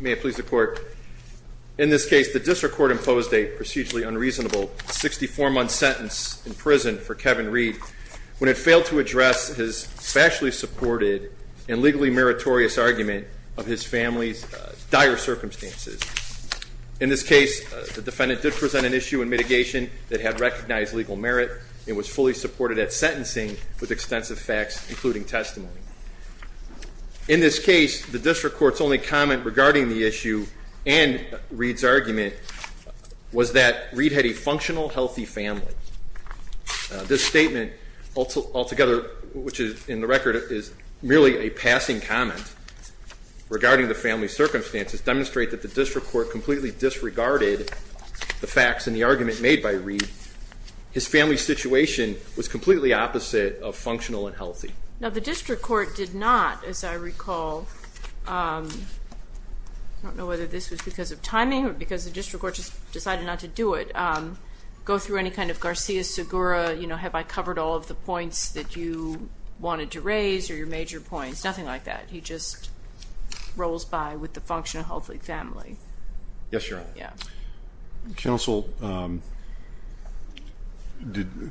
May it please the court. In this case, the district court imposed a procedurally unreasonable 64-month sentence in prison for Kevin Reed when it failed to address his factually supported and legally meritorious argument of his family's dire circumstances. In this case, the defendant did present an issue in mitigation that had recognized legal merit and was fully supported at sentencing with extensive facts, including testimony. In this case, the district court's only comment regarding the issue and Reed's argument was that Reed had a functional, healthy family. This statement altogether, which in the record is merely a passing comment regarding the family's circumstances, demonstrate that the district court completely disregarded the facts in the argument made by Reed. His family's situation was completely opposite of functional and healthy. Now, the district court did not, as I recall, I don't know whether this was because of timing or because the district court just decided not to do it, go through any kind of Garcia-Segura, you know, have I covered all of the points that you wanted to raise or your major points, nothing like that. He just rolls by with the function of healthy family. Yes, Your Honor. Yeah. Counsel,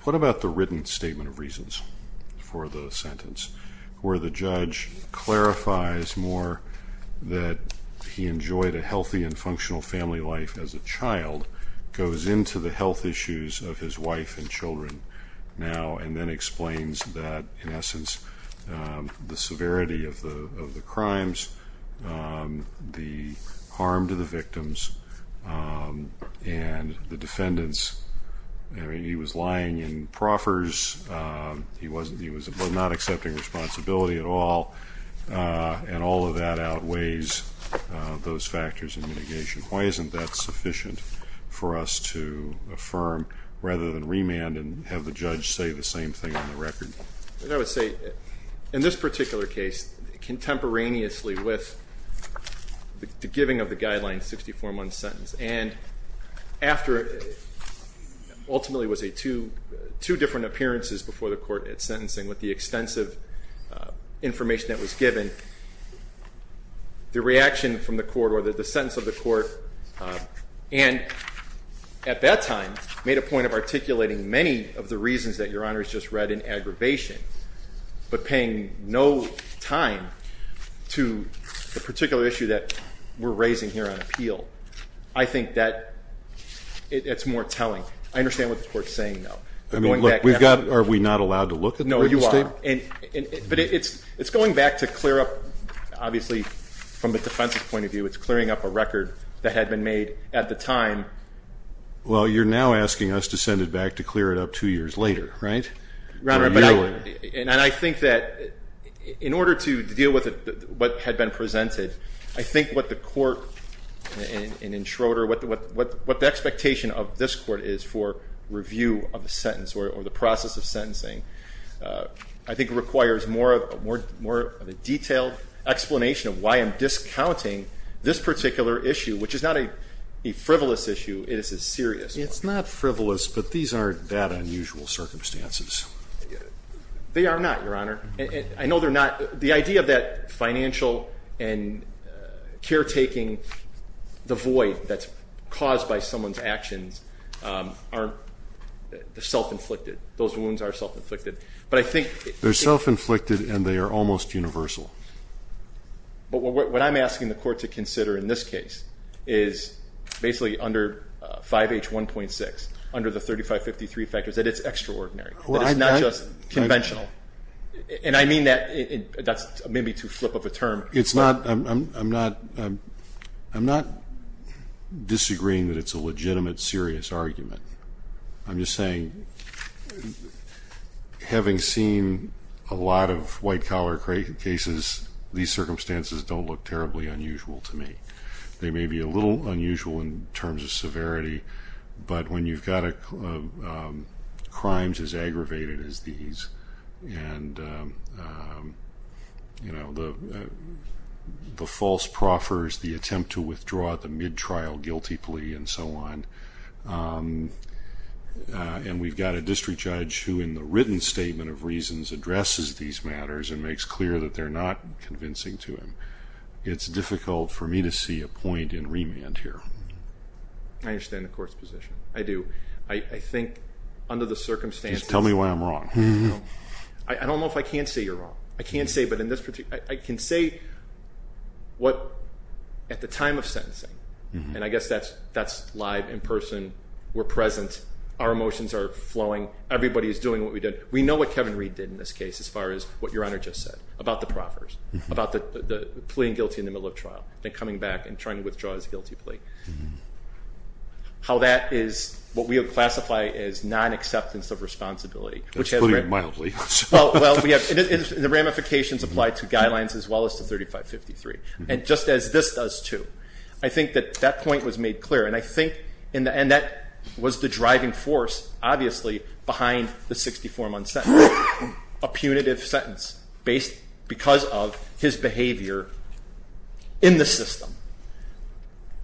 what about the written statement of reasons for the sentence where the judge clarifies more that he enjoyed a healthy and functional family life as a child, goes into the health issues of his wife and children now, and then explains that, in essence, the severity of the crimes, the harm to the victims, and the defendants. I mean, he was lying in proffers. He was not accepting responsibility at all, and all of that outweighs those factors in mitigation. Why isn't that sufficient for us to affirm, rather than remand and have the judge say the same thing on the record? I would say, in this particular case, contemporaneously with the giving of the guideline 64-1 sentence, and after ultimately it was two different appearances before the court at sentencing, with the extensive information that was given, the reaction from the court or the sentence of the court, and at that time, made a point of articulating many of the reasons that Your Honor has just read in aggravation, but paying no time to the particular issue that we're raising here on appeal. I think that it's more telling. I understand what the court's saying, though. I mean, look, we've got, are we not allowed to look at that? No, you are. But it's going back to clear up, obviously, from the defense's point of view, it's clearing up a record that had been made at the time. Well, you're now asking us to send it back to clear it up two years later, right? And I think that in order to deal with what had been presented, I think what the court in Schroeder, what the expectation of this court is for review of the sentence or the process of sentencing, I think requires more of a detailed explanation of why I'm discounting this particular issue, which is not a frivolous issue, it is a serious one. It's not frivolous, but these aren't that unusual circumstances. They are not, Your Honor. I know they're not. The idea of that financial and caretaking, the void that's caused by someone's actions aren't self-inflicted. Those wounds are self-inflicted. They're self-inflicted and they are almost universal. But what I'm asking the court to consider in this case is basically under 5H1.6, under the 3553 factors, that it's extraordinary. That it's not just conventional. And I mean that maybe to flip of a term. I'm not disagreeing that it's a legitimate, serious argument. I'm just saying, having seen a lot of white-collar cases, these circumstances don't look terribly unusual to me. They may be a little unusual in terms of severity, but when you've got crimes as aggravated as these, and the false proffers, the attempt to withdraw at the mid-trial guilty plea and so on, and we've got a district judge who in the written statement of reasons addresses these matters and makes clear that they're not convincing to him, it's difficult for me to see a point in remand here. I understand the court's position. I do. I think under the circumstances. Tell me why I'm wrong. I don't know if I can say you're wrong. I can't say, but in this particular case, I can say what at the time of sentencing, and I guess that's live, in person, we're present, our emotions are flowing, everybody is doing what we did. We know what Kevin Reed did in this case as far as what Your Honor just said about the proffers, about the plea and guilty in the middle of trial, then coming back and trying to withdraw his guilty plea. How that is what we would classify as non-acceptance of responsibility. That's putting it mildly. Well, the ramifications apply to guidelines as well as to 3553, and just as this does too. I think that that point was made clear, and I think in the end that was the driving force, obviously, behind the 64-month sentence, a punitive sentence because of his behavior in the system.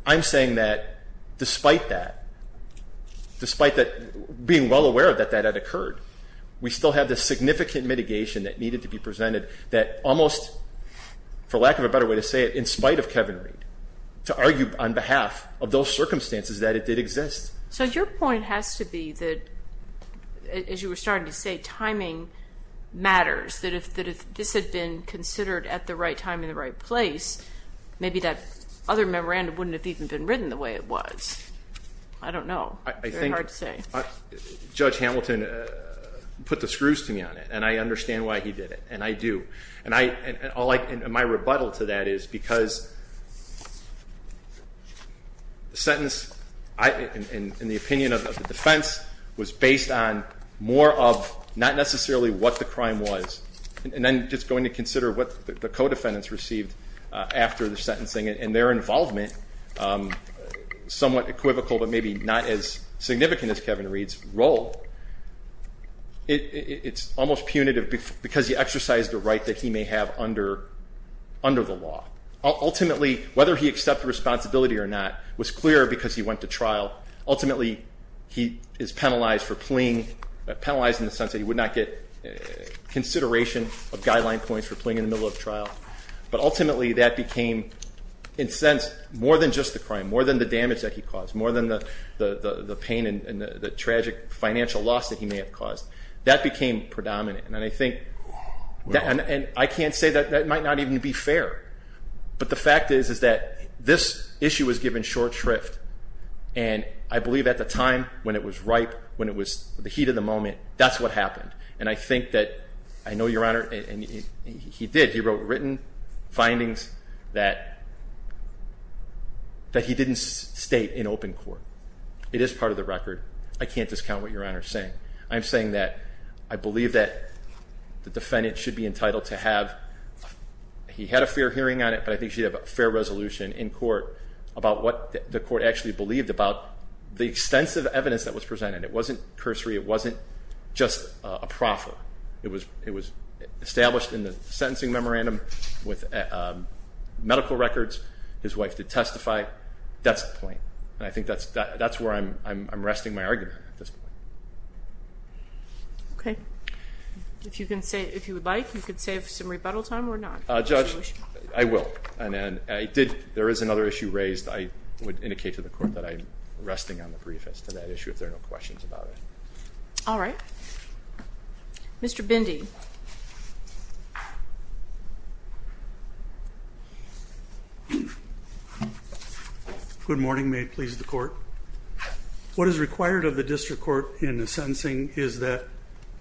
I'm saying that despite that, despite being well aware that that had occurred, we still have this significant mitigation that needed to be presented that almost, for lack of a better way to say it, in spite of Kevin Reed, to argue on behalf of those circumstances that it did exist. So your point has to be that, as you were starting to say, timing matters, that if this had been considered at the right time in the right place, maybe that other memorandum wouldn't have even been written the way it was. I don't know. It's very hard to say. Judge Hamilton put the screws to me on it, and I understand why he did it, and I do. And my rebuttal to that is because the sentence, in the opinion of the defense, was based on more of not necessarily what the crime was, and then just going to consider what the co-defendants received after the sentencing and their involvement, somewhat equivocal but maybe not as significant as Kevin Reed's role. It's almost punitive because he exercised a right that he may have under the law. Ultimately, whether he accepted responsibility or not was clear because he went to trial. Ultimately, he is penalized for pleaing, penalized in the sense that he would not get consideration of guideline points for pleaing in the middle of a trial. But ultimately that became, in a sense, more than just the crime, more than the damage that he caused, more than the pain and the tragic financial loss that he may have caused. That became predominant. And I can't say that that might not even be fair, but the fact is that this issue was given short shrift, and I believe at the time when it was ripe, when it was the heat of the moment, that's what happened. And I think that I know, Your Honor, and he did. He wrote written findings that he didn't state in open court. It is part of the record. I can't discount what Your Honor is saying. I'm saying that I believe that the defendant should be entitled to have, he had a fair hearing on it, but I think he should have a fair resolution in court about what the court actually believed about the extensive evidence that was presented. It wasn't cursory. It wasn't just a proffer. It was established in the sentencing memorandum with medical records. His wife did testify. That's the point, and I think that's where I'm resting my argument at this point. Okay. If you would like, you could save some rebuttal time or not. Judge, I will. There is another issue raised I would indicate to the court that I'm resting on the brief as to that issue if there are no questions about it. All right. Mr. Bindi. Good morning. May it please the Court. What is required of the district court in the sentencing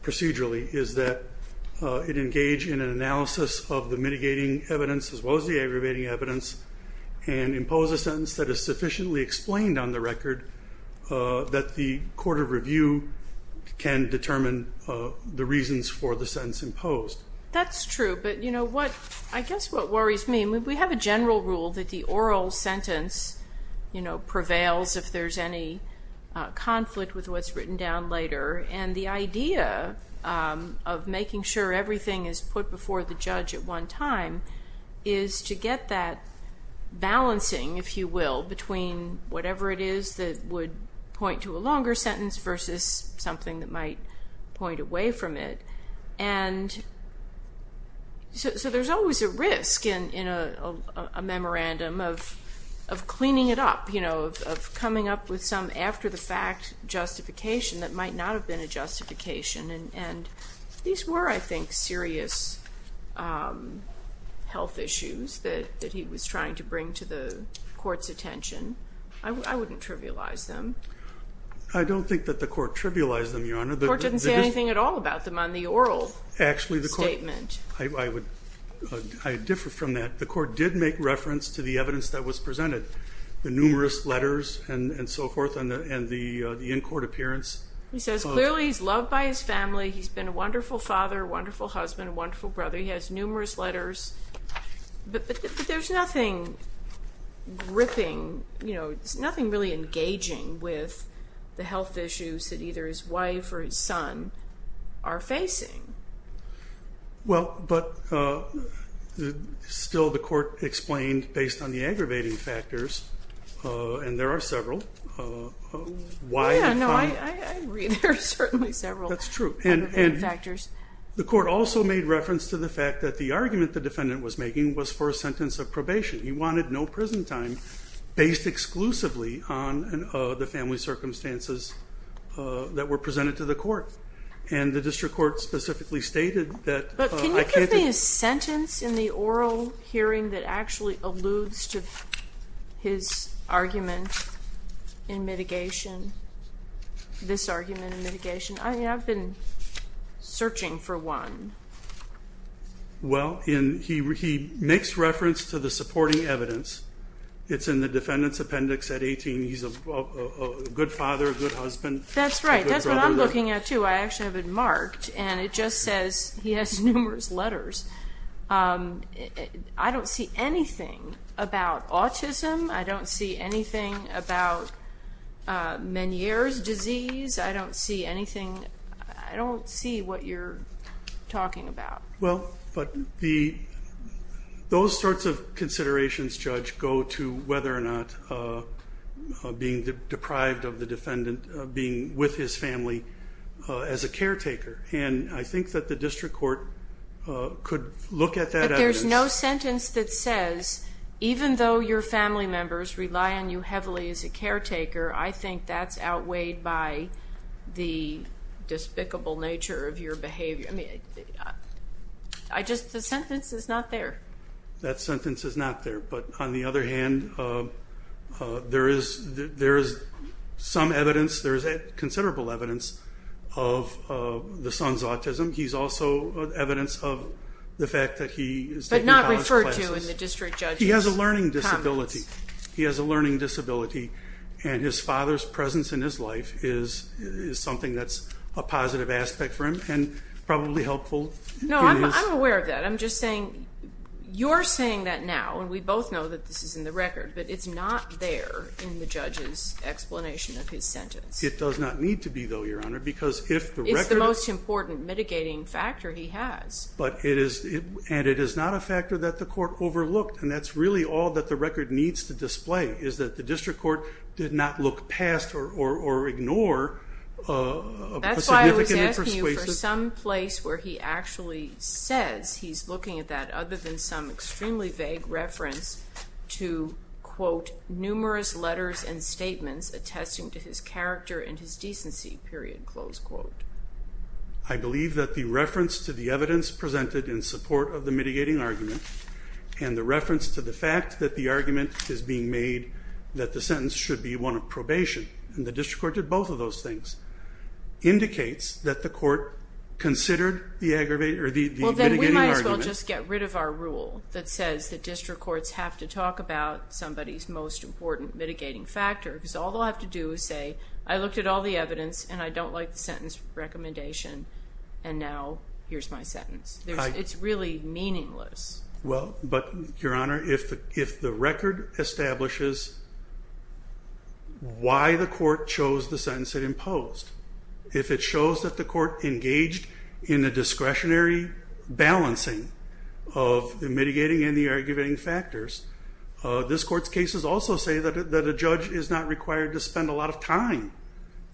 procedurally is that it engage in an analysis of the mitigating evidence as well as the aggravating evidence and impose a sentence that is sufficiently explained on the record that the court of review can determine the reasons for the sentence imposed. That's true, but I guess what worries me, we have a general rule that the oral sentence prevails if there's any conflict with what's written down later, and the idea of making sure everything is put before the judge at one time is to get that balancing, if you will, between whatever it is that would point to a longer sentence versus something that might point away from it. So there's always a risk in a memorandum of cleaning it up, of coming up with some after-the-fact justification that might not have been a justification, and these were, I think, serious health issues that he was trying to bring to the court's attention. I wouldn't trivialize them. I don't think that the court trivialized them, Your Honor. The court didn't say anything at all about them on the oral statement. Actually, I would differ from that. The court did make reference to the evidence that was presented. The numerous letters and so forth, and the in-court appearance. He says clearly he's loved by his family. He's been a wonderful father, a wonderful husband, a wonderful brother. He has numerous letters, but there's nothing gripping. There's nothing really engaging with the health issues that either his wife or his son are facing. Well, but still the court explained based on the aggravating factors, and there are several. Yeah, no, I agree. There are certainly several aggravating factors. That's true. The court also made reference to the fact that the argument the defendant was making was for a sentence of probation. He wanted no prison time based exclusively on the family circumstances that were presented to the court, and the district court specifically stated that. But can you give me a sentence in the oral hearing that actually alludes to his argument in mitigation, this argument in mitigation? I mean, I've been searching for one. Well, he makes reference to the supporting evidence. It's in the defendant's appendix at 18. He's a good father, a good husband. That's right. That's what I'm looking at, too. I actually have it marked, and it just says he has numerous letters. I don't see anything about autism. I don't see anything about Meniere's disease. I don't see anything. I don't see what you're talking about. Well, but those sorts of considerations, Judge, go to whether or not being deprived of the defendant being with his family as a caretaker. And I think that the district court could look at that evidence. But there's no sentence that says even though your family members rely on you heavily as a caretaker, I think that's outweighed by the despicable nature of your behavior. I just the sentence is not there. That sentence is not there. But on the other hand, there is some evidence. There is considerable evidence of the son's autism. He's also evidence of the fact that he is taking college classes. But not referred to in the district judge's comments. He has a learning disability. He has a learning disability, No, I'm aware of that. I'm just saying you're saying that now, and we both know that this is in the record, but it's not there in the judge's explanation of his sentence. It does not need to be, though, Your Honor, because if the record It's the most important mitigating factor he has. And it is not a factor that the court overlooked. And that's really all that the record needs to display is that the district court did not look past That's why I was asking you for some place where he actually says he's looking at that other than some extremely vague reference to, quote, numerous letters and statements attesting to his character and his decency, period, close quote. I believe that the reference to the evidence presented in support of the mitigating argument and the reference to the fact that the argument is being made that the sentence should be one of probation, and the district court did both of those things, indicates that the court considered the mitigating argument. Well, then we might as well just get rid of our rule that says that district courts have to talk about somebody's most important mitigating factor because all they'll have to do is say, I looked at all the evidence, and I don't like the sentence recommendation, and now here's my sentence. It's really meaningless. Well, but, Your Honor, if the record establishes why the court chose the sentence it imposed, if it shows that the court engaged in a discretionary balancing of the mitigating and the arguing factors, this court's cases also say that a judge is not required to spend a lot of time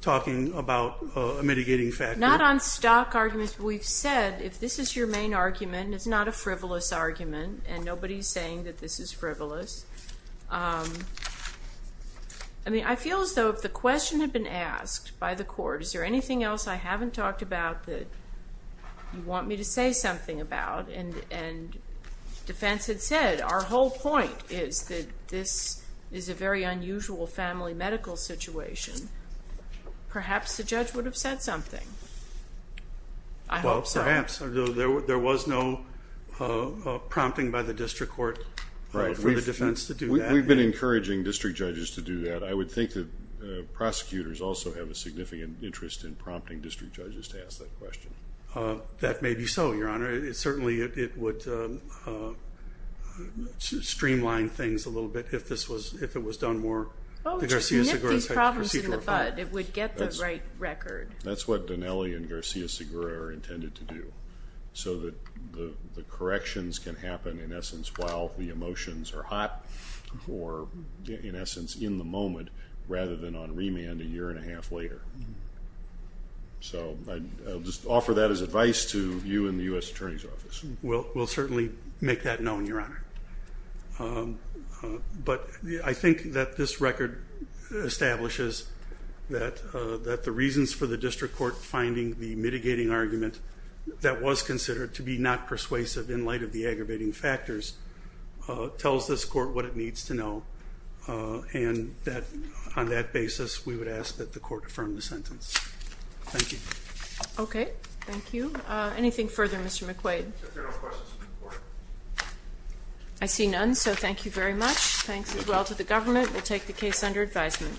talking about a mitigating factor. Not on stock arguments, but we've said if this is your main argument, it's not a frivolous argument, and nobody's saying that this is frivolous. I mean, I feel as though if the question had been asked by the court, is there anything else I haven't talked about that you want me to say something about, and defense had said our whole point is that this is a very unusual family medical situation, perhaps the judge would have said something. I hope so. Well, perhaps. There was no prompting by the district court for the defense to do that. We've been encouraging district judges to do that. I would think that prosecutors also have a significant interest in prompting district judges to ask that question. That may be so, Your Honor. Certainly it would streamline things a little bit if it was done more. Well, just nip these problems in the bud. It would get the right record. That's what Dinelli and Garcia-Segura are intended to do, so that the corrections can happen, in essence, while the emotions are hot, or, in essence, in the moment, rather than on remand a year and a half later. So I'll just offer that as advice to you in the U.S. Attorney's Office. We'll certainly make that known, Your Honor. But I think that this record establishes that the reasons for the district court finding the mitigating argument that was considered to be not persuasive in light of the aggravating factors tells this court what it needs to know, and that on that basis we would ask that the court affirm the sentence. Thank you. Okay. Thank you. Anything further, Mr. McQuaid? If there are no questions from the court. I see none, so thank you very much. Thanks as well to the government. We'll take the case under advisement.